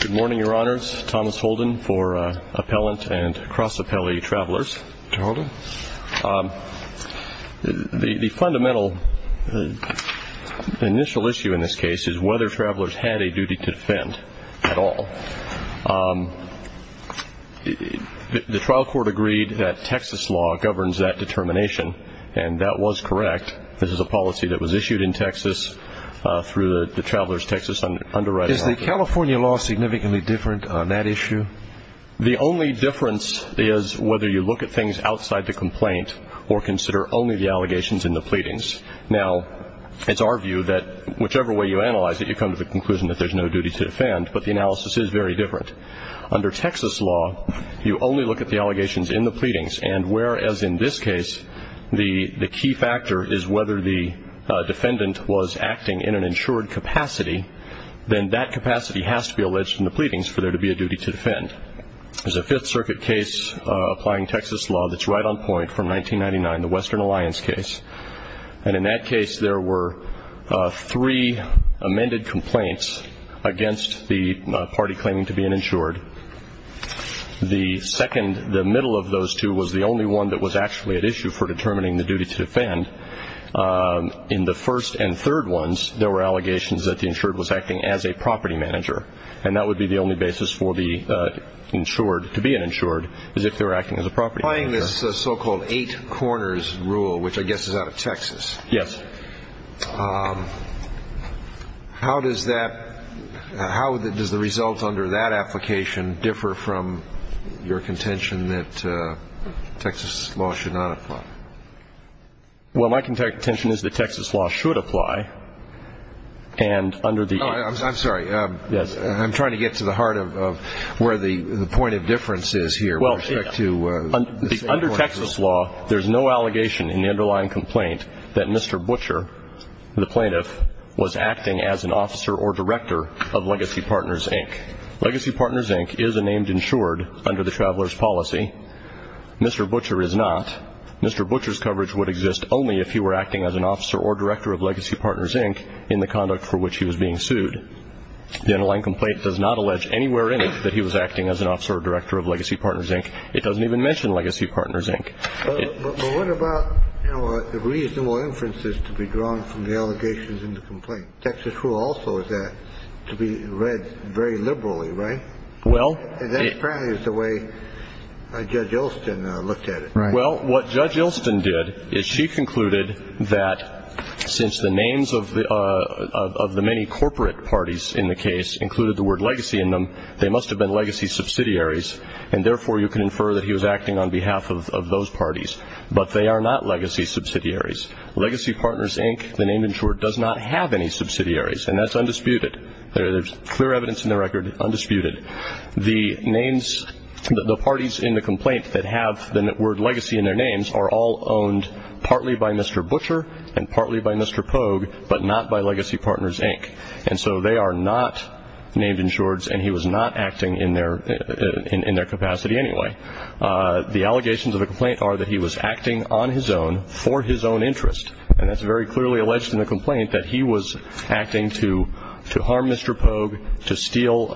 Good morning, Your Honors. Thomas Holden for Appellant and Cross Appellee Travelers. Mr. Holden. The fundamental initial issue in this case is whether Travelers had a duty to defend at all. The trial court agreed that Texas law governs that determination, and that was correct. This is a policy that was issued in Texas through the Travelers Texas Underwriting Act. Is the California law significantly different on that issue? The only difference is whether you look at things outside the complaint or consider only the allegations in the pleadings. Now, it's our view that whichever way you analyze it, you come to the conclusion that there's no duty to defend, but the analysis is very different. Under Texas law, you only look at the allegations in the pleadings, and whereas in this case, the key factor is whether the defendant was acting in an insured capacity, then that capacity has to be alleged in the pleadings for there to be a duty to defend. There's a Fifth Circuit case applying Texas law that's right on point from 1999, the Western Alliance case, and in that case there were three amended complaints against the party claiming to be uninsured. The middle of those two was the only one that was actually at issue for determining the duty to defend. In the first and third ones, there were allegations that the insured was acting as a property manager, and that would be the only basis for the insured to be an insured, is if they were acting as a property manager. Applying this so-called eight corners rule, which I guess is out of Texas. Yes. How does the result under that application differ from your contention that Texas law should not apply? Well, my contention is that Texas law should apply, and under the eight. I'm sorry. Yes. I'm trying to get to the heart of where the point of difference is here. Under Texas law, there's no allegation in the underlying complaint that Mr. Butcher, the plaintiff, was acting as an officer or director of Legacy Partners, Inc. Legacy Partners, Inc. is a named insured under the traveler's policy. Mr. Butcher is not. Mr. Butcher's coverage would exist only if he were acting as an officer or director of Legacy Partners, Inc. in the conduct for which he was being sued. The underlying complaint does not allege anywhere in it that he was acting as an officer or director of Legacy Partners, Inc. It doesn't even mention Legacy Partners, Inc. But what about the reasonable inferences to be drawn from the allegations in the complaint? Texas rule also is that to be read very liberally, right? Well. And that's apparently the way Judge Ilston looked at it. Right. Well, what Judge Ilston did is she concluded that since the names of the many corporate parties in the case included the word legacy in them, they must have been legacy subsidiaries, and therefore you can infer that he was acting on behalf of those parties. But they are not legacy subsidiaries. Legacy Partners, Inc., the named insured, does not have any subsidiaries, and that's undisputed. There's clear evidence in the record, undisputed. The names, the parties in the complaint that have the word legacy in their names are all owned partly by Mr. Butcher and partly by Mr. Pogue, but not by Legacy Partners, Inc. And so they are not named insureds, and he was not acting in their capacity anyway. The allegations of the complaint are that he was acting on his own for his own interest, and that's very clearly alleged in the complaint that he was acting to harm Mr. Pogue, to steal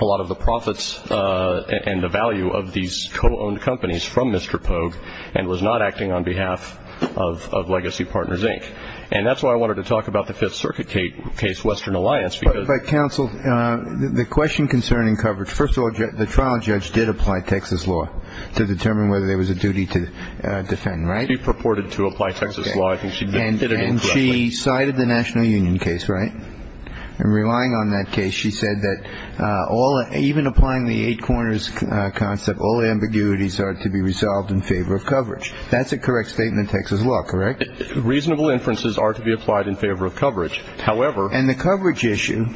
a lot of the profits and the value of these co-owned companies from Mr. Pogue and was not acting on behalf of Legacy Partners, Inc. And that's why I wanted to talk about the Fifth Circuit case, Western Alliance. But, counsel, the question concerning coverage, first of all, the trial judge did apply Texas law to determine whether there was a duty to defend, right? She purported to apply Texas law. And she cited the National Union case, right? And relying on that case, she said that even applying the eight corners concept, all ambiguities are to be resolved in favor of coverage. That's a correct statement in Texas law, correct? Reasonable inferences are to be applied in favor of coverage. And the coverage issue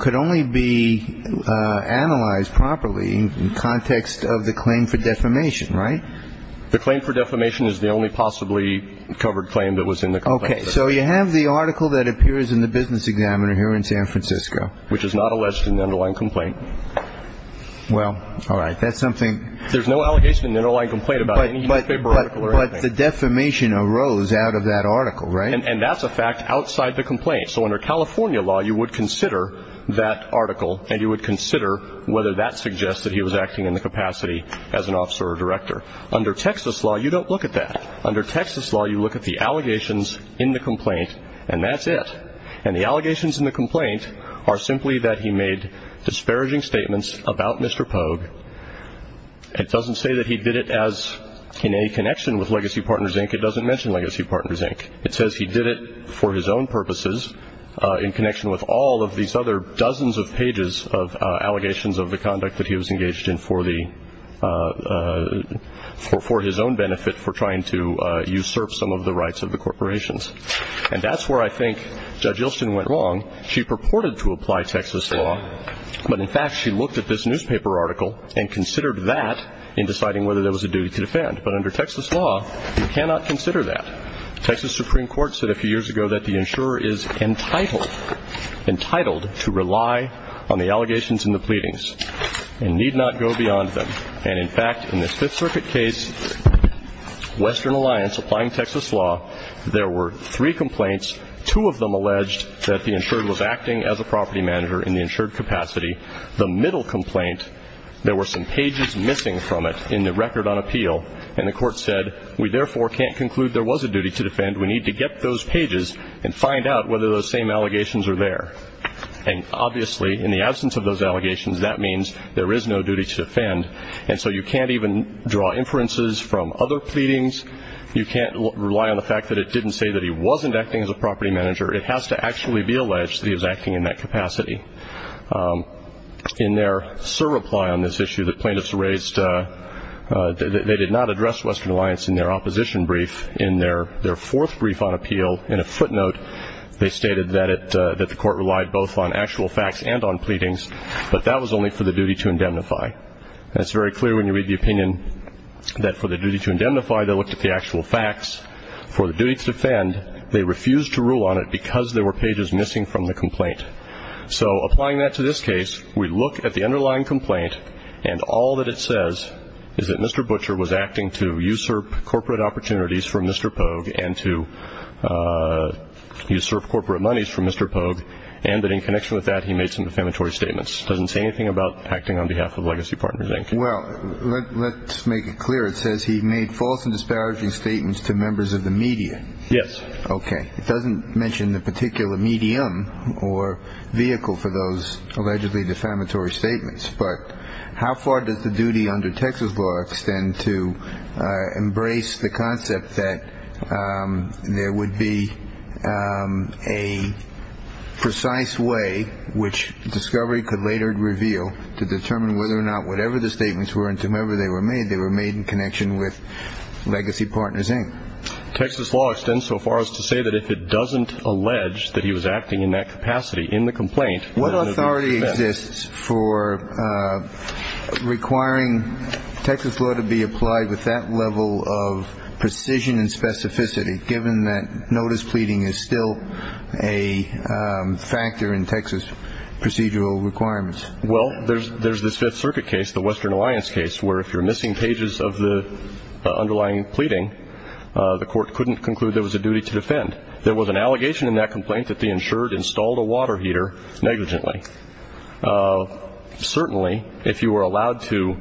could only be analyzed properly in context of the claim for defamation, right? The claim for defamation is the only possibly covered claim that was in the complaint. Okay. So you have the article that appears in the business examiner here in San Francisco. Which is not alleged in the underlying complaint. Well, all right, that's something. There's no allegation in the underlying complaint about any newspaper article or anything. But the defamation arose out of that article, right? And that's a fact outside the complaint. So under California law, you would consider that article, under Texas law, you don't look at that. Under Texas law, you look at the allegations in the complaint, and that's it. And the allegations in the complaint are simply that he made disparaging statements about Mr. Pogue. It doesn't say that he did it in any connection with Legacy Partners, Inc. It doesn't mention Legacy Partners, Inc. It says he did it for his own purposes in connection with all of these other dozens of pages of allegations of the conduct that he was engaged in for his own benefit for trying to usurp some of the rights of the corporations. And that's where I think Judge Ilston went wrong. She purported to apply Texas law, but, in fact, she looked at this newspaper article and considered that in deciding whether there was a duty to defend. But under Texas law, you cannot consider that. Texas Supreme Court said a few years ago that the insurer is entitled, entitled to rely on the allegations and the pleadings and need not go beyond them. And, in fact, in this Fifth Circuit case, Western Alliance, applying Texas law, there were three complaints. Two of them alleged that the insurer was acting as a property manager in the insured capacity. The middle complaint, there were some pages missing from it in the record on appeal, and the court said, we therefore can't conclude there was a duty to defend. We need to get those pages and find out whether those same allegations are there. And, obviously, in the absence of those allegations, that means there is no duty to defend. And so you can't even draw inferences from other pleadings. You can't rely on the fact that it didn't say that he wasn't acting as a property manager. It has to actually be alleged that he was acting in that capacity. In their surreply on this issue, the plaintiffs raised that they did not address Western Alliance in their opposition brief. In their fourth brief on appeal, in a footnote, they stated that the court relied both on actual facts and on pleadings, but that was only for the duty to indemnify. And it's very clear when you read the opinion that for the duty to indemnify, they looked at the actual facts. For the duty to defend, they refused to rule on it because there were pages missing from the complaint. So applying that to this case, we look at the underlying complaint, and all that it says is that Mr. Butcher was acting to usurp corporate opportunities from Mr. Pogue and to usurp corporate monies from Mr. Pogue, and that in connection with that, he made some defamatory statements. It doesn't say anything about acting on behalf of Legacy Partners, Inc. Well, let's make it clear. It says he made false and disparaging statements to members of the media. Yes. Okay. It doesn't mention the particular medium or vehicle for those allegedly defamatory statements. But how far does the duty under Texas law extend to embrace the concept that there would be a precise way, which discovery could later reveal, to determine whether or not whatever the statements were and to whomever they were made, they were made in connection with Legacy Partners, Inc.? Texas law extends so far as to say that if it doesn't allege that he was acting in that capacity in the complaint. What authority exists for requiring Texas law to be applied with that level of precision and specificity, given that notice pleading is still a factor in Texas procedural requirements? Well, there's this Fifth Circuit case, the Western Alliance case, where if you're missing pages of the underlying pleading, the court couldn't conclude there was a duty to defend. There was an allegation in that complaint that the insured installed a water heater negligently. Certainly, if you were allowed to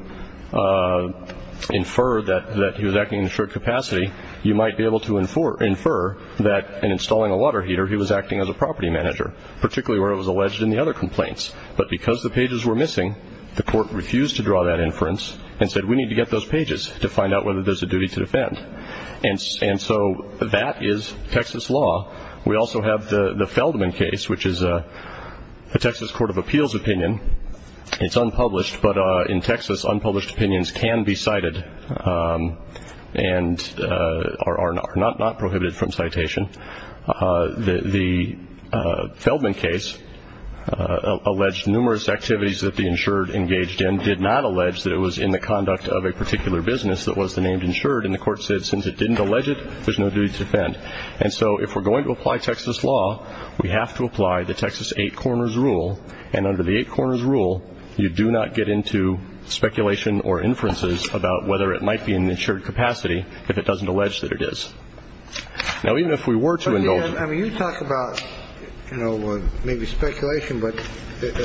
infer that he was acting in an insured capacity, you might be able to infer that in installing a water heater he was acting as a property manager, particularly where it was alleged in the other complaints. But because the pages were missing, the court refused to draw that inference and said we need to get those pages to find out whether there's a duty to defend. And so that is Texas law. We also have the Feldman case, which is a Texas court of appeals opinion. It's unpublished, but in Texas, unpublished opinions can be cited and are not prohibited from citation. The Feldman case alleged numerous activities that the insured engaged in, did not allege that it was in the conduct of a particular business that was the named insured, and the court said since it didn't allege it, there's no duty to defend. And so if we're going to apply Texas law, we have to apply the Texas Eight Corners Rule, and under the Eight Corners Rule, you do not get into speculation or inferences about whether it might be an insured capacity if it doesn't allege that it is. Now, even if we were to indulge it. I mean, you talk about, you know, maybe speculation, but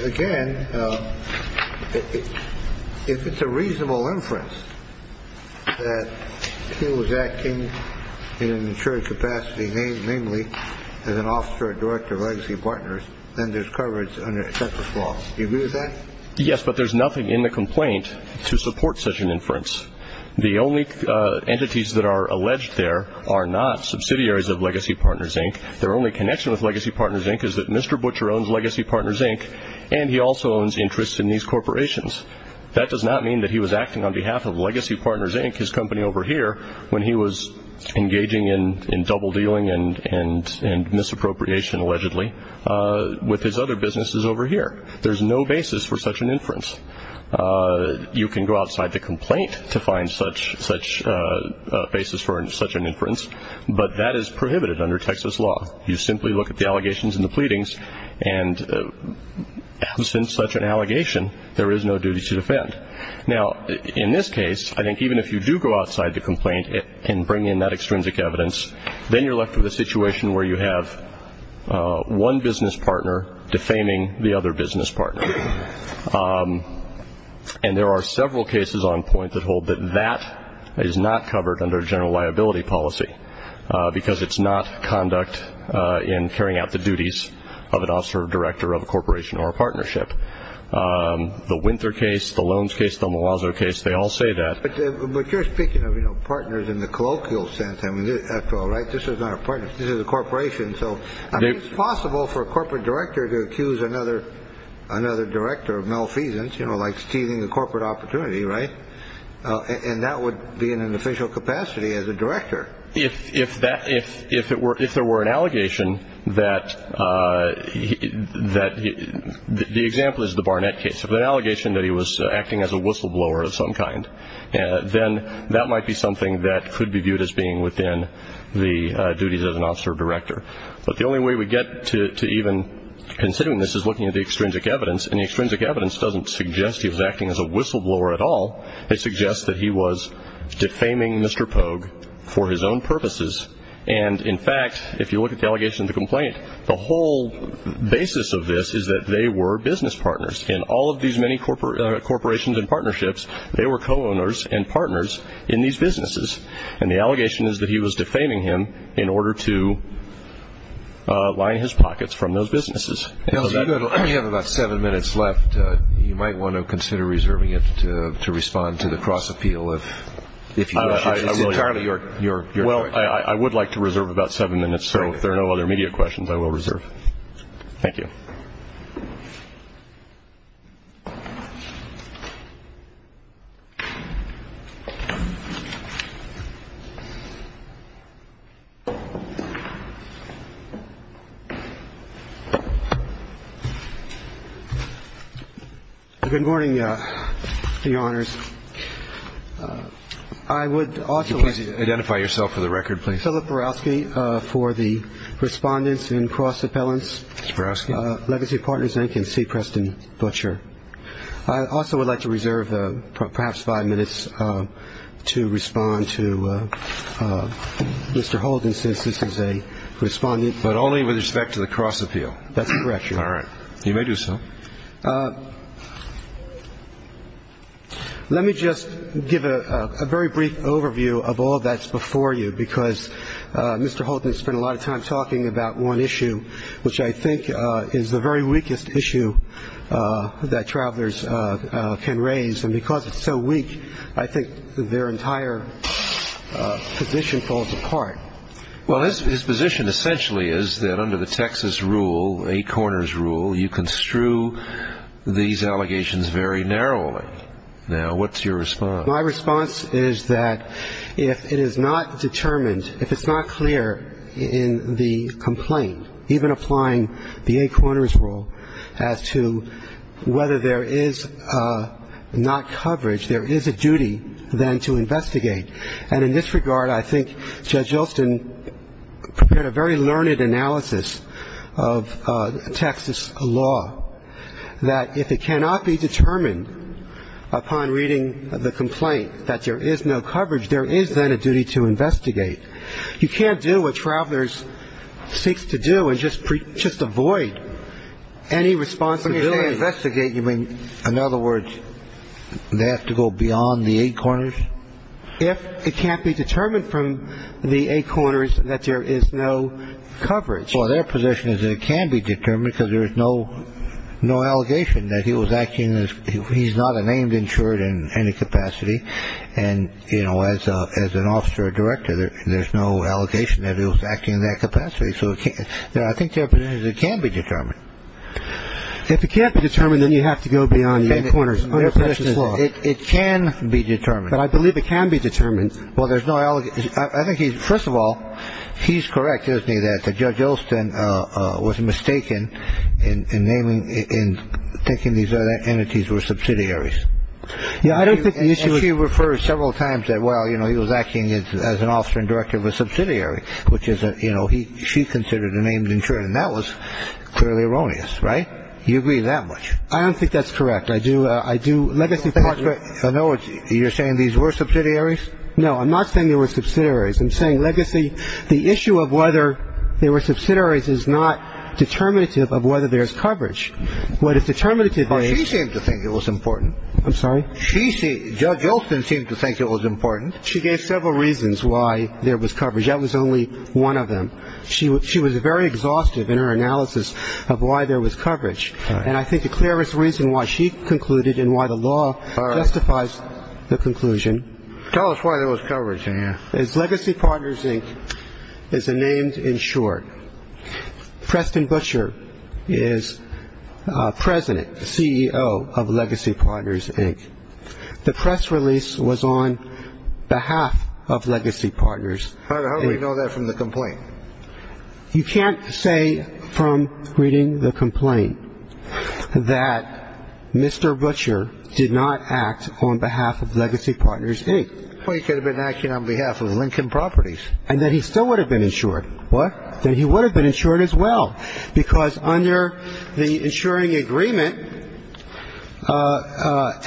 again, if it's a reasonable inference that he was acting in an insured capacity, namely as an officer or director of legacy partners, then there's coverage under Texas law. Do you agree with that? Yes, but there's nothing in the complaint to support such an inference. The only entities that are alleged there are not subsidiaries of Legacy Partners, Inc. Their only connection with Legacy Partners, Inc. is that Mr. Butcher owns Legacy Partners, Inc., and he also owns interests in these corporations. That does not mean that he was acting on behalf of Legacy Partners, Inc., his company over here, when he was engaging in double dealing and misappropriation, allegedly, with his other businesses over here. There's no basis for such an inference. You can go outside the complaint to find such a basis for such an inference, but that is prohibited under Texas law. You simply look at the allegations and the pleadings, and since such an allegation, there is no duty to defend. Now, in this case, I think even if you do go outside the complaint and bring in that extrinsic evidence, then you're left with a situation where you have one business partner defaming the other business partner. And there are several cases on point that hold that that is not covered under general liability policy because it's not conduct in carrying out the duties of an officer or director of a corporation or a partnership. The Winther case, the Loans case, the Malazzo case, they all say that. But you're speaking of partners in the colloquial sense. I mean, after all, right, this is not a partner. This is a corporation. So it's possible for a corporate director to accuse another another director of malfeasance, you know, like stealing a corporate opportunity. Right. And that would be in an official capacity as a director. If if that if if it were if there were an allegation that that the example is the Barnett case, if an allegation that he was acting as a whistleblower of some kind, then that might be something that could be viewed as being within the duties of an officer or director. But the only way we get to even considering this is looking at the extrinsic evidence. And the extrinsic evidence doesn't suggest he was acting as a whistleblower at all. It suggests that he was defaming Mr. Pogue for his own purposes. And in fact, if you look at the allegation of the complaint, the whole basis of this is that they were business partners in all of these many corporate corporations and partnerships. They were co-owners and partners in these businesses. And the allegation is that he was defaming him in order to line his pockets from those businesses. You have about seven minutes left. You might want to consider reserving it to respond to the cross appeal. Well, I would like to reserve about seven minutes. So if there are no other media questions, I will reserve. Thank you. Good morning, Your Honors. I would also like to identify yourself for the record, please. Philip Borowski for the Respondents and Cross Appellants. Mr. Borowski. Legacy Partners Inc. and C. Preston Butcher. Thank you. I also would like to reserve perhaps five minutes to respond to Mr. Holden, since this is a respondent. But only with respect to the cross appeal. That's correct, Your Honor. All right. You may do so. Let me just give a very brief overview of all that's before you, because Mr. Holden spent a lot of time talking about one issue, which I think is the very weakest issue that travelers can raise. And because it's so weak, I think their entire position falls apart. Well, his position essentially is that under the Texas rule, eight corners rule, you construe these allegations very narrowly. Now, what's your response? My response is that if it is not determined, if it's not clear in the complaint, even applying the eight corners rule as to whether there is not coverage, there is a duty then to investigate. And in this regard, I think Judge Yeltsin prepared a very learned analysis of Texas law, that if it cannot be determined upon reading the complaint that there is no coverage, there is then a duty to investigate. You can't do what travelers seek to do and just avoid any responsibility. When you say investigate, you mean, in other words, they have to go beyond the eight corners? If it can't be determined from the eight corners that there is no coverage. Well, their position is that it can be determined because there is no allegation that he was acting. He's not a named insured in any capacity. And, you know, as an officer or director, there's no allegation that he was acting in that capacity. So I think it can be determined. If it can't be determined, then you have to go beyond the eight corners under Texas law. It can be determined. But I believe it can be determined. Well, there's no allegation. First of all, he's correct, isn't he, that Judge Yeltsin was mistaken in naming and thinking these entities were subsidiaries. Yeah, I don't think the issue is. And she referred several times that, well, you know, he was acting as an officer and director of a subsidiary, which is, you know, she considered a named insured. And that was clearly erroneous. Right. You agree that much. I don't think that's correct. I do. I do. I know you're saying these were subsidiaries. No. I'm not saying they were subsidiaries. I'm saying legacy. The issue of whether they were subsidiaries is not determinative of whether there's coverage. What is determinative is... But she seemed to think it was important. I'm sorry? She seemed... Judge Yeltsin seemed to think it was important. She gave several reasons why there was coverage. That was only one of them. She was very exhaustive in her analysis of why there was coverage. And I think the clearest reason why she concluded and why the law justifies the conclusion. Tell us why there was coverage in here. Legacy Partners, Inc. is a named insured. Preston Butcher is president, CEO of Legacy Partners, Inc. The press release was on behalf of Legacy Partners. How do we know that from the complaint? You can't say from reading the complaint that Mr. Butcher did not act on behalf of Legacy Partners, Inc. Well, he could have been acting on behalf of Lincoln Properties. And that he still would have been insured. What? That he would have been insured as well, because under the insuring agreement,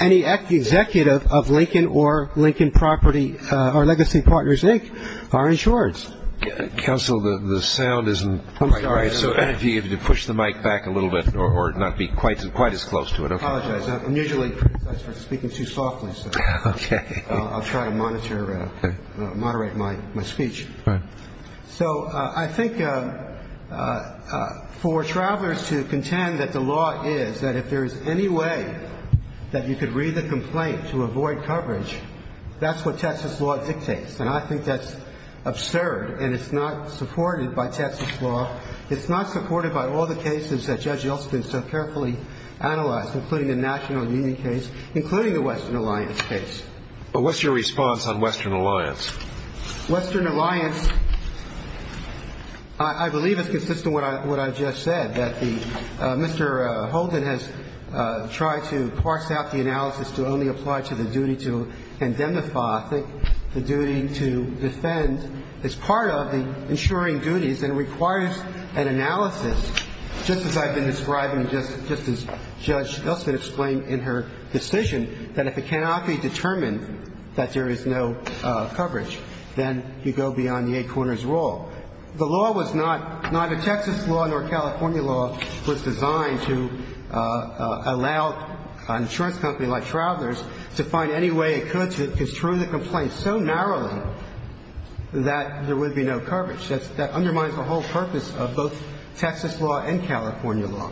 any executive of Lincoln or Lincoln Property or Legacy Partners, Inc. are insured. Counsel, the sound isn't quite right. So if you could push the mic back a little bit or not be quite as close to it. I apologize. I'm usually speaking too softly. Okay. I'll try to monitor, moderate my speech. Right. So I think for travelers to contend that the law is that if there is any way that you could read the complaint to avoid coverage, that's what Texas law dictates. And I think that's absurd. And it's not supported by Texas law. It's not supported by all the cases that Judge Yeltsin so carefully analyzed, including the National Union case, including the Western Alliance case. What's your response on Western Alliance? Western Alliance, I believe, is consistent with what I just said, that Mr. Holden has tried to parse out the analysis to only apply to the duty to indemnify, I think the duty to defend is part of the insuring duties and requires an analysis, just as I've been describing, just as Judge Yeltsin explained in her decision, that if it cannot be determined that there is no coverage, then you go beyond the eight corners rule. The law was not a Texas law nor a California law. It was designed to allow an insurance company like Travelers to find any way it could to construe the complaint so narrowly that there would be no coverage. That undermines the whole purpose of both Texas law and California law.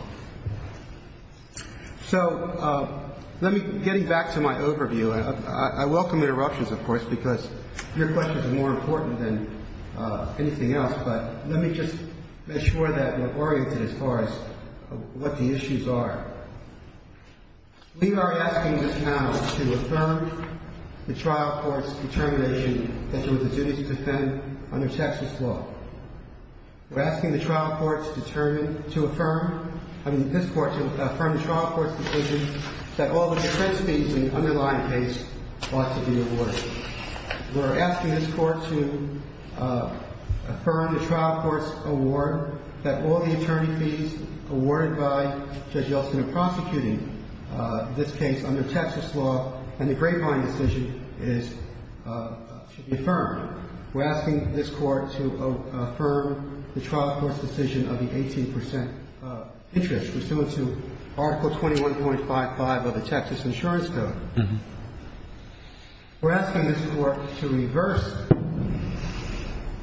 So let me get back to my overview. I welcome interruptions, of course, because your question is more important than anything else. But let me just make sure that we're oriented as far as what the issues are. We are asking this now to affirm the trial court's determination that there was a duty to defend under Texas law. We're asking the trial court to affirm the trial court's decision that all the defense fees in the underlying case ought to be awarded. We're asking this court to affirm the trial court's award that all the attorney fees awarded by Judge Yeltsin in prosecuting this case under Texas law and the grapevine decision is to be affirmed. We're asking this court to affirm the trial court's decision of the 18 percent interest pursuant to Article 21.55 of the Texas Insurance Code. We're asking this court to reverse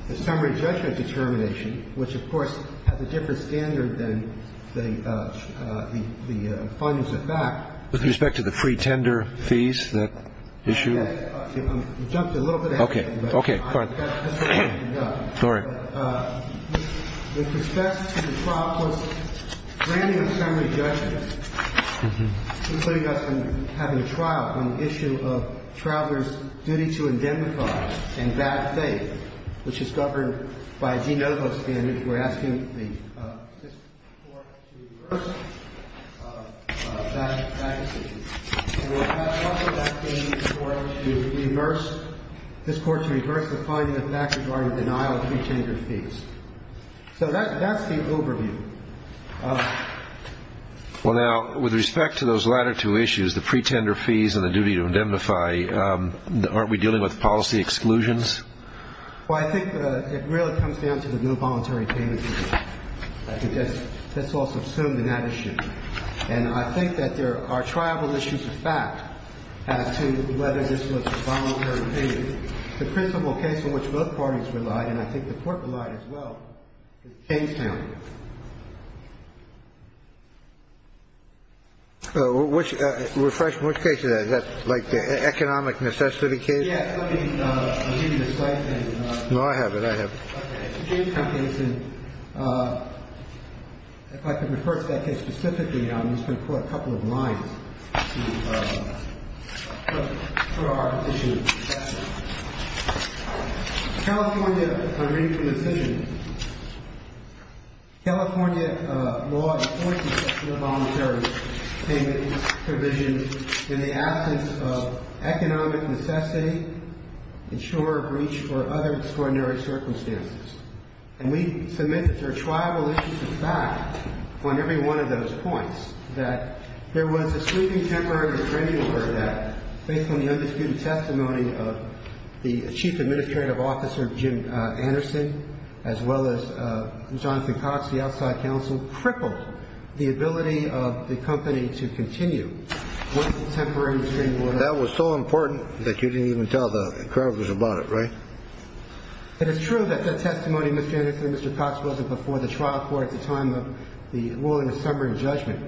the summary judgment determination, which, of course, has a different standard than the findings of fact. With respect to the free tender fees, that issue? You jumped a little bit ahead. Okay. Okay. Fine. Sorry. With respect to the trial court's granting of summary judgment, including us from having a trial on the issue of travelers' duty to indemnify and bad faith, which is governed by a de novo standard, we're asking this court to reverse that decision. And we're also asking this court to reverse the finding of fact regarding denial of free tender fees. So that's the overview. Well, now, with respect to those latter two issues, the free tender fees and the duty to indemnify, aren't we dealing with policy exclusions? Well, I think it really comes down to the no voluntary payment issue. I think that's also assumed in that issue. And I think that there are travel issues of fact as to whether this was a voluntary payment. The principal case in which both parties relied, and I think the court relied as well, is Kingstown. So which refreshment case is that like the economic necessity case? Yes. No, I have it. I have. If I could refer to that case specifically, I'm just going to put a couple of lines. California, on reading from the decision, California law enforces no voluntary payment provision in the absence of economic necessity, insurer of reach, or other extraordinary circumstances. And we submit that there are travel issues of fact on every one of those points, that there was a sweeping temporary restraining order that, based on the undisputed testimony of the chief administrative officer, Jim Anderson, as well as Jonathan Cox, the outside counsel, crippled the ability of the company to continue with the temporary restraining order. That was so important that you didn't even tell the creditors about it, right? It is true that that testimony, Mr. Anderson and Mr. Cox, wasn't before the trial court at the time of the ruling of summary judgment.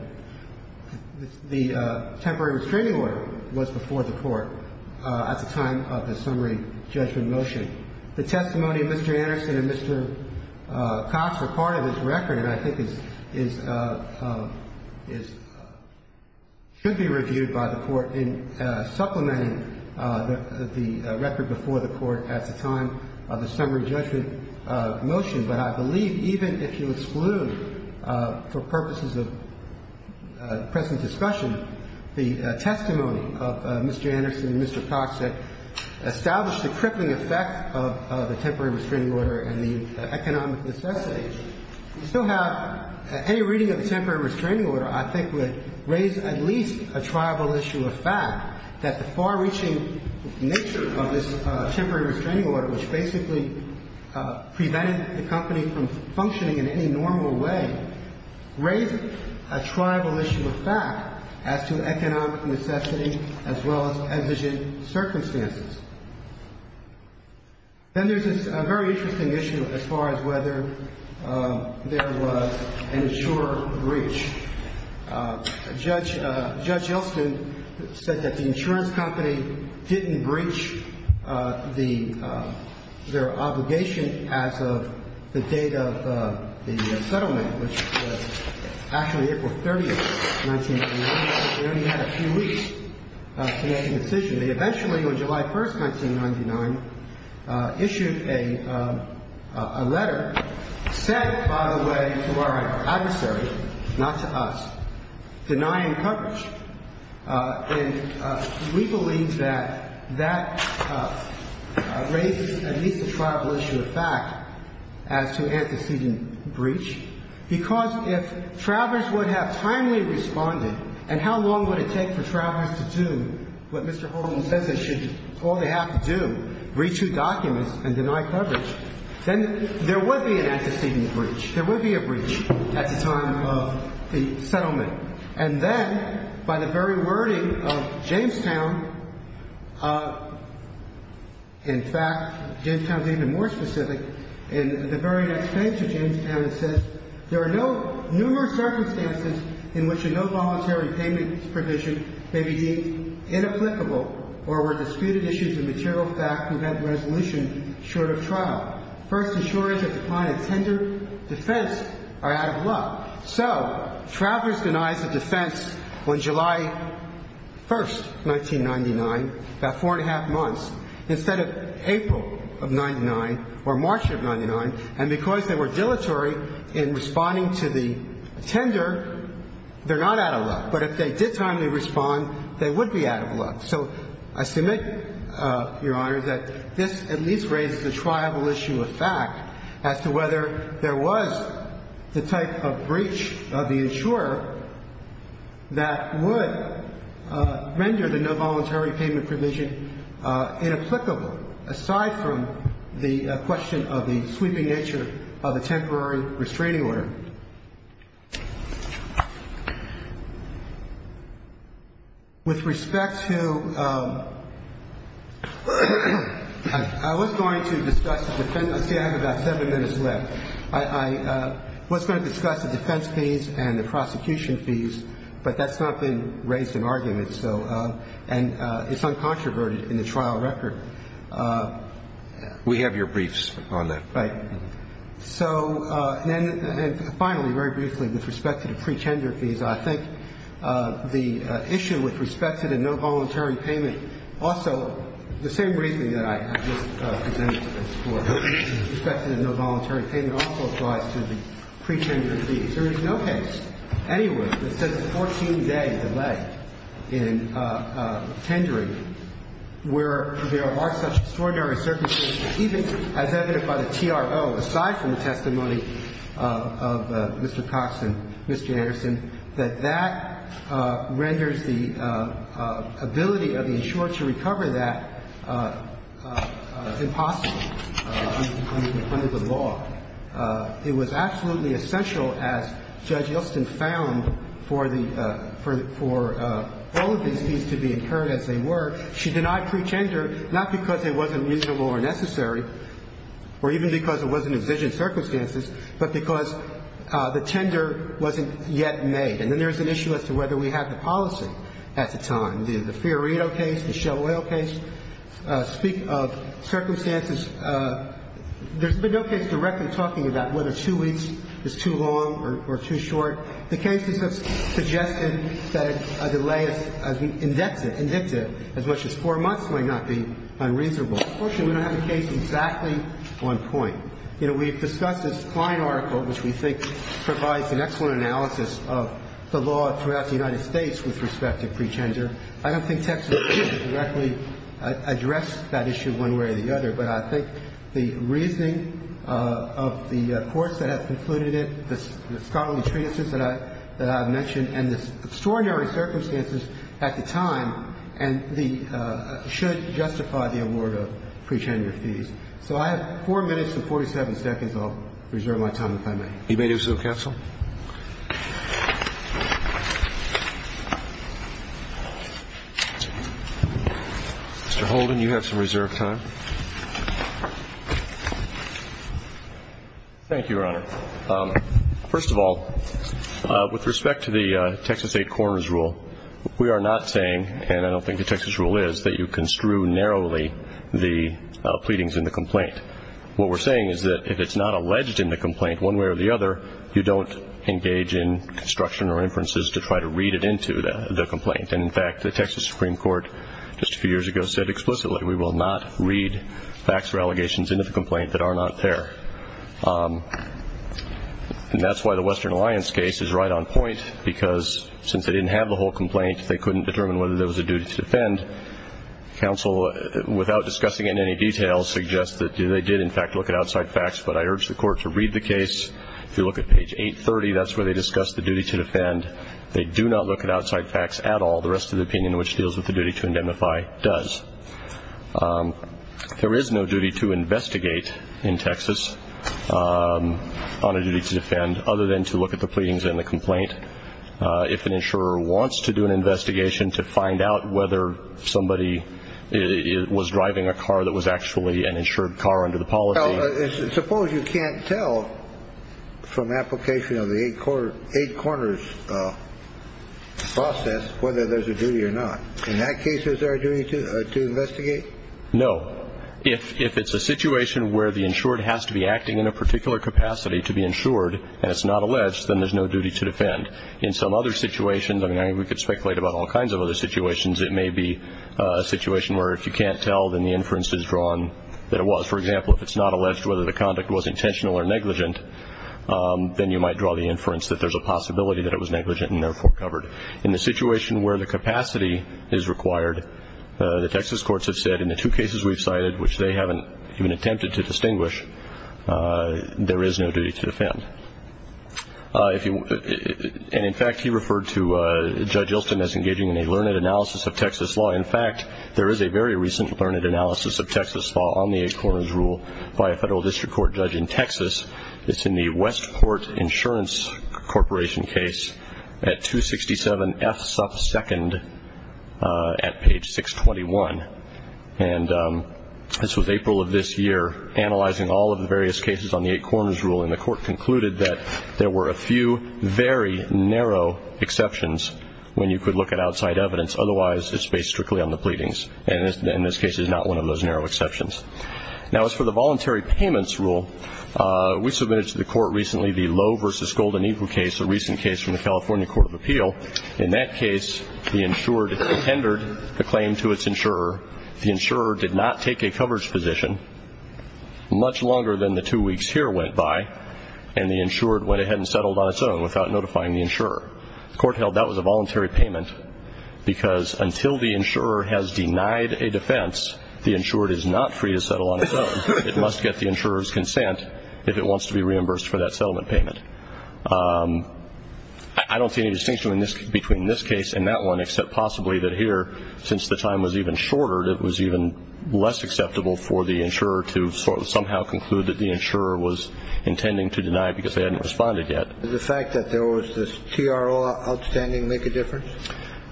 The temporary restraining order was before the court at the time of the summary judgment motion. The testimony of Mr. Anderson and Mr. Cox were part of this record and I think is should be reviewed by the court in supplementing the record before the court at the time of the summary judgment motion. But I believe even if you exclude, for purposes of present discussion, the testimony of Mr. Anderson and Mr. Cox that established the crippling effect of the temporary restraining order and the economic necessity, you still have any reading of the temporary restraining order I think would raise at least a travel issue of fact that the far-reaching nature of this temporary restraining order, which basically prevented the company from functioning in any normal way, raised a tribal issue of fact as to economic necessity as well as exigent circumstances. Then there's a very interesting issue as far as whether there was an insurer breach. Judge Elston said that the insurance company didn't breach their obligation as of the date of the settlement, which was actually April 30th, 1999. They only had a few weeks to make a decision. They eventually, on July 1st, 1999, issued a letter, said, by the way, to our adversary, not to us, denying coverage. And we believe that that raises at least a travel issue of fact as to antecedent breach, because if travelers would have timely responded, and how long would it take for travelers to do what Mr. Holden says they should all they have to do, breach two documents and deny coverage, then there would be an antecedent breach. There would be a breach at the time of the settlement. And then, by the very wording of Jamestown, in fact, Jamestown is even more specific. In the very next page of Jamestown, it says, there are no numerous circumstances in which a no-voluntary payment provision may be deemed inapplicable or where disputed issues of material fact prevent resolution short of trial. First, insurers that decline a tender defense are out of luck. So travelers denies a defense on July 1st, 1999, about four and a half months, instead of April of 99 or March of 99, and because they were dilatory in responding to the tender, they're not out of luck. But if they did timely respond, they would be out of luck. So I submit, Your Honor, that this at least raises a triable issue of fact as to whether there was the type of breach of the insurer that would render the no-voluntary payment provision inapplicable, aside from the question of the sweeping nature of the temporary restraining order. With respect to – I was going to discuss the defense – let's see, I have about seven minutes left. I was going to discuss the defense fees and the prosecution fees, but that's not been raised in argument, so – and it's uncontroverted in the trial record. We have your briefs on that. Right. So – and finally, very briefly, with respect to the pre-tender fees, I think the issue with respect to the no-voluntary payment – also, the same briefing that I just presented before, with respect to the no-voluntary payment also applies to the pre-tender fees. There is no case anywhere that says a 14-day delay in tendering where there are such fees to be incurred as they were. She denied pre-tender, not because it wasn't reasonable or necessary, or even because I think that's a very important point. circumstances, but because the tender wasn't yet made. And then there's an issue as to whether we have the policy at the time. The Fiorito case, the Shell Oil case, speak of circumstances – there's been no case directly talking about whether two weeks is too long or too short. The cases have suggested that a delay as indexed, indicative, as much as four months might not be unreasonable. Unfortunately, we don't have a case exactly on point. You know, we've discussed this Klein article, which we think provides an excellent analysis of the law throughout the United States with respect to pre-tender. I don't think Texas should directly address that issue one way or the other, but I think the reasoning of the courts that have concluded it, the scholarly treatises that I've mentioned, and the extraordinary circumstances at the time, and the – should justify the award of pre-tender fees. So I have four minutes and 47 seconds. I'll reserve my time if I may. You may do so, counsel. Mr. Holden, you have some reserved time. Thank you, Your Honor. First of all, with respect to the Texas Eight Corners rule, we are not saying, and I don't think the Texas rule is, that you construe narrowly the pleadings in the complaint. What we're saying is that if it's not alleged in the complaint one way or the other, you don't engage in construction or inferences to try to read it into the complaint. And in fact, the Texas Supreme Court just a few years ago said explicitly we will not read facts or allegations into the complaint that are not there. And that's why the Western Alliance case is right on point, because since they didn't have the whole complaint, they couldn't determine whether there was a duty to defend. Counsel, without discussing it in any detail, suggests that they did in fact look at outside facts, but I urge the Court to read the case. If you look at page 830, that's where they discuss the duty to defend. They do not look at outside facts at all. The rest of the opinion which deals with the duty to indemnify does. There is no duty to investigate in Texas on a duty to defend, other than to look at the pleadings in the complaint. If an insurer wants to do an investigation to find out whether somebody was driving a car that was actually an insured car under the policy. Suppose you can't tell from application of the eight corners process whether there's a duty or not. In that case, is there a duty to investigate? No. If it's a situation where the insured has to be acting in a particular capacity to be insured and it's not alleged, then there's no duty to defend. In some other situations, I mean, we could speculate about all kinds of other situations, it may be a situation where if you can't tell, then the inference is drawn that it was. For example, if it's not alleged whether the conduct was intentional or negligent, then you might draw the inference that there's a possibility that it was negligent and therefore covered. In the situation where the capacity is required, the Texas courts have said in the two cases we've cited, which they haven't even attempted to distinguish, there is no duty to defend. And, in fact, he referred to Judge Ilston as engaging in a learned analysis of Texas law. In fact, there is a very recent learned analysis of Texas law on the eight corners rule by a federal district court judge in Texas. It's in the Westport Insurance Corporation case at 267 F. Suff. 2nd at page 621. And this was April of this year, analyzing all of the various cases on the eight corners rule, and the court concluded that there were a few very narrow exceptions when you could look at outside evidence. Otherwise, it's based strictly on the pleadings. And in this case, it's not one of those narrow exceptions. Now, as for the voluntary payments rule, we submitted to the court recently the Lowe v. Golden Eagle case, a recent case from the California Court of Appeal. In that case, the insured tendered the claim to its insurer. The insurer did not take a coverage position much longer than the two weeks here went by, and the insured went ahead and settled on its own without notifying the insurer. The court held that was a voluntary payment because until the insurer has denied a defense, the insured is not free to settle on its own. It must get the insurer's consent if it wants to be reimbursed for that settlement payment. I don't see any distinction between this case and that one, except possibly that here, since the time was even shorter, it was even less acceptable for the insurer to somehow conclude that the insurer was intending to deny because they hadn't responded yet. Did the fact that there was this TRO outstanding make a difference?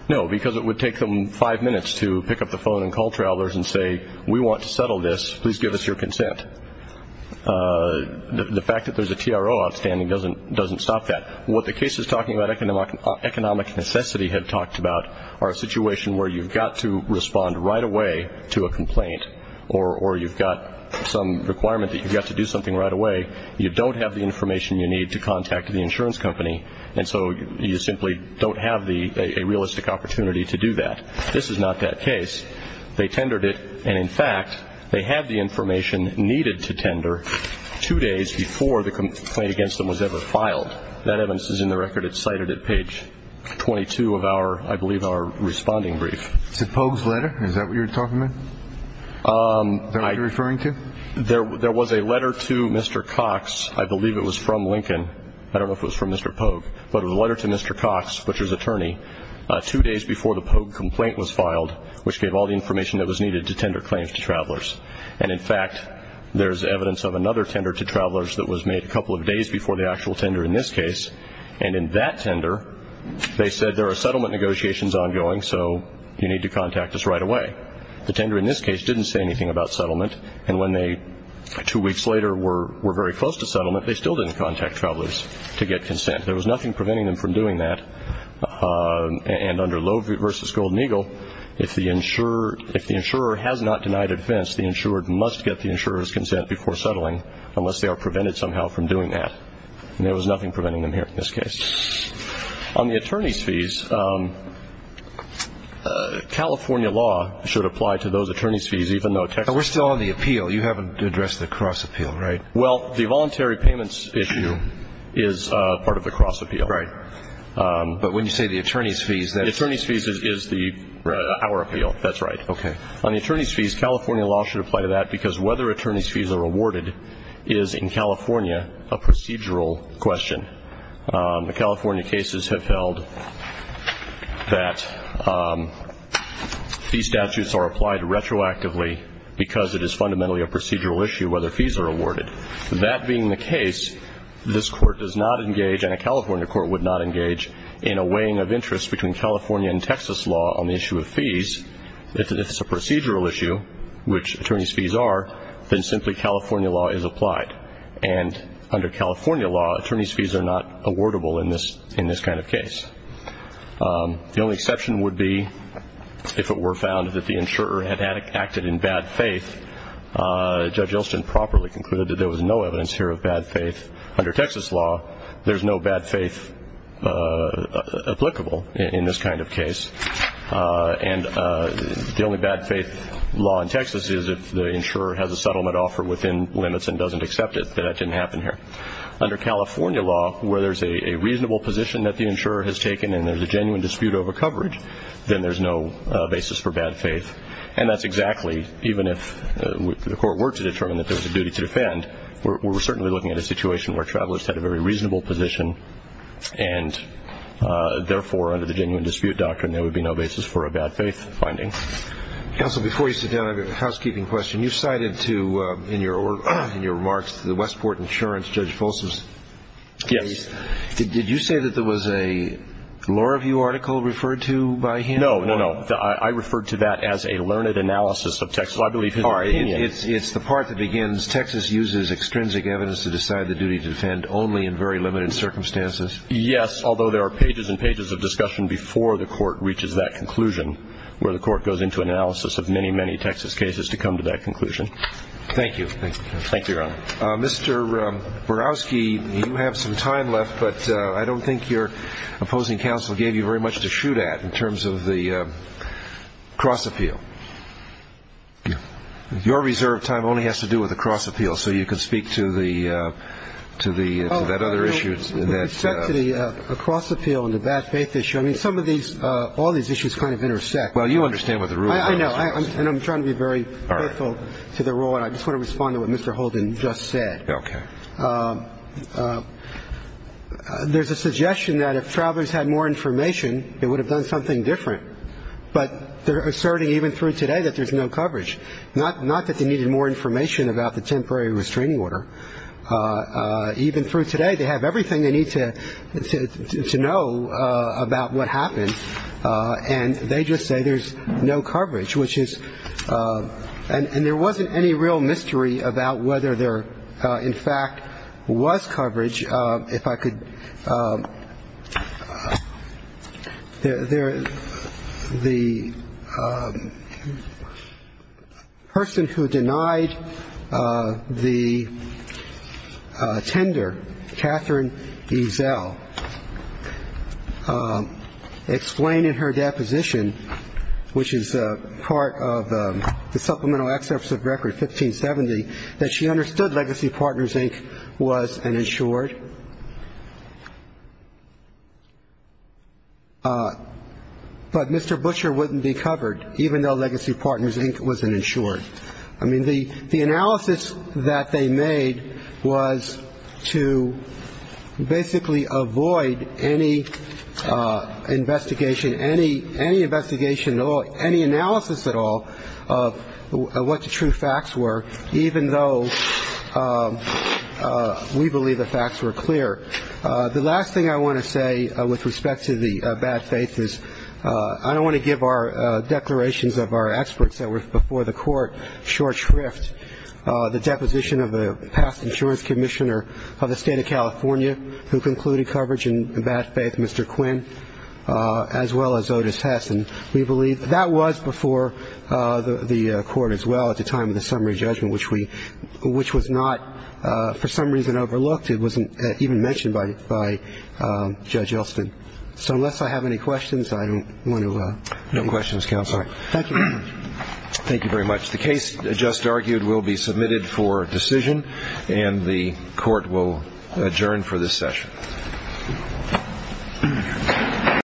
No, because it would take them five minutes to pick up the phone and call travelers and say, we want to settle this, please give us your consent. The fact that there's a TRO outstanding doesn't stop that. What the case is talking about, economic necessity had talked about, are a situation where you've got to respond right away to a complaint or you've got some requirement that you've got to do something right away. You don't have the information you need to contact the insurance company, and so you simply don't have a realistic opportunity to do that. This is not that case. They tendered it, and, in fact, they had the information needed to tender two days before the complaint against them was ever filed. That evidence is in the record. It's cited at page 22 of our, I believe, our responding brief. Is it Pogue's letter? Is that what you're talking about? Is that what you're referring to? There was a letter to Mr. Cox. I believe it was from Lincoln. I don't know if it was from Mr. Pogue, but it was a letter to Mr. Cox, which was attorney, two days before the Pogue complaint was filed, which gave all the information that was needed to tender claims to travelers. And, in fact, there's evidence of another tender to travelers that was made a couple of days before the actual tender in this case, and in that tender they said there are settlement negotiations ongoing, so you need to contact us right away. The tender in this case didn't say anything about settlement, and when they, two weeks later, were very close to settlement, they still didn't contact travelers to get consent. There was nothing preventing them from doing that. And under Loew v. Golden Eagle, if the insurer has not denied a defense, the insured must get the insurer's consent before settling, unless they are prevented somehow from doing that. And there was nothing preventing them here in this case. On the attorney's fees, California law should apply to those attorney's fees, even though Texas. We're still on the appeal. You haven't addressed the cross appeal, right? Well, the voluntary payments issue is part of the cross appeal. Right. But when you say the attorney's fees, that's- The attorney's fees is our appeal. That's right. Okay. On the attorney's fees, California law should apply to that, because whether attorney's fees are awarded is, in California, a procedural question. The California cases have held that these statutes are applied retroactively because it is fundamentally a procedural issue whether fees are awarded. That being the case, this Court does not engage, and a California court would not engage, in a weighing of interest between California and Texas law on the issue of fees. If it's a procedural issue, which attorney's fees are, then simply California law is applied. And under California law, attorney's fees are not awardable in this kind of case. The only exception would be if it were found that the insurer had acted in bad faith. Judge Elston properly concluded that there was no evidence here of bad faith. Under Texas law, there's no bad faith applicable in this kind of case. And the only bad faith law in Texas is if the insurer has a settlement offer within limits and doesn't accept it. That didn't happen here. Under California law, where there's a reasonable position that the insurer has taken and there's a genuine dispute over coverage, then there's no basis for bad faith. And that's exactly, even if the Court were to determine that there was a duty to defend, we're certainly looking at a situation where travelers had a very reasonable position and, therefore, under the genuine dispute doctrine, there would be no basis for a bad faith finding. Counsel, before you sit down, I have a housekeeping question. You cited in your remarks to the Westport Insurance, Judge Folsom's case. Yes. Did you say that there was a law review article referred to by him? No, no, no. I referred to that as a learned analysis of Texas law. I believe his opinion. It's the part that begins, Texas uses extrinsic evidence to decide the duty to defend only in very limited circumstances. Yes, although there are pages and pages of discussion before the Court reaches that conclusion where the Court goes into analysis of many, many Texas cases to come to that conclusion. Thank you. Thank you, Your Honor. Mr. Borowski, you have some time left, but I don't think your opposing counsel gave you very much to shoot at in terms of the cross appeal. Your reserved time only has to do with the cross appeal, so you can speak to that other issue. With respect to the cross appeal and the bad faith issue, all these issues kind of intersect. Well, you understand what the rule is. I know, and I'm trying to be very careful to the rule, and I just want to respond to what Mr. Holden just said. Okay. There's a suggestion that if travelers had more information, they would have done something different, but they're asserting even through today that there's no coverage, not that they needed more information about the temporary restraining order. Even through today, they have everything they need to know about what happened, and they just say there's no coverage, which is — and there wasn't any real mystery about whether there, in fact, was coverage. If I could — the person who denied the tender, Catherine Ezell, explained in her deposition, which is part of the Supplemental Act, that she understood Legacy Partners, Inc. was an insured, but Mr. Butcher wouldn't be covered even though Legacy Partners, Inc. was an insured. I mean, the analysis that they made was to basically avoid any investigation, any investigation, any analysis at all of what the true facts were, even though we believe the facts were clear. The last thing I want to say with respect to the bad faith is I don't want to give our declarations of our experts that were before the Court short shrift. The deposition of the past insurance commissioner of the State of California who concluded coverage in bad faith, Mr. Quinn, as well as Otis Hess, and we believe that was before the Court as well at the time of the summary judgment, which we — which was not, for some reason, overlooked. It wasn't even mentioned by Judge Elston. So unless I have any questions, I don't want to — No questions, Counselor. Thank you. Thank you very much. The case just argued will be submitted for decision, and the Court will adjourn for this session.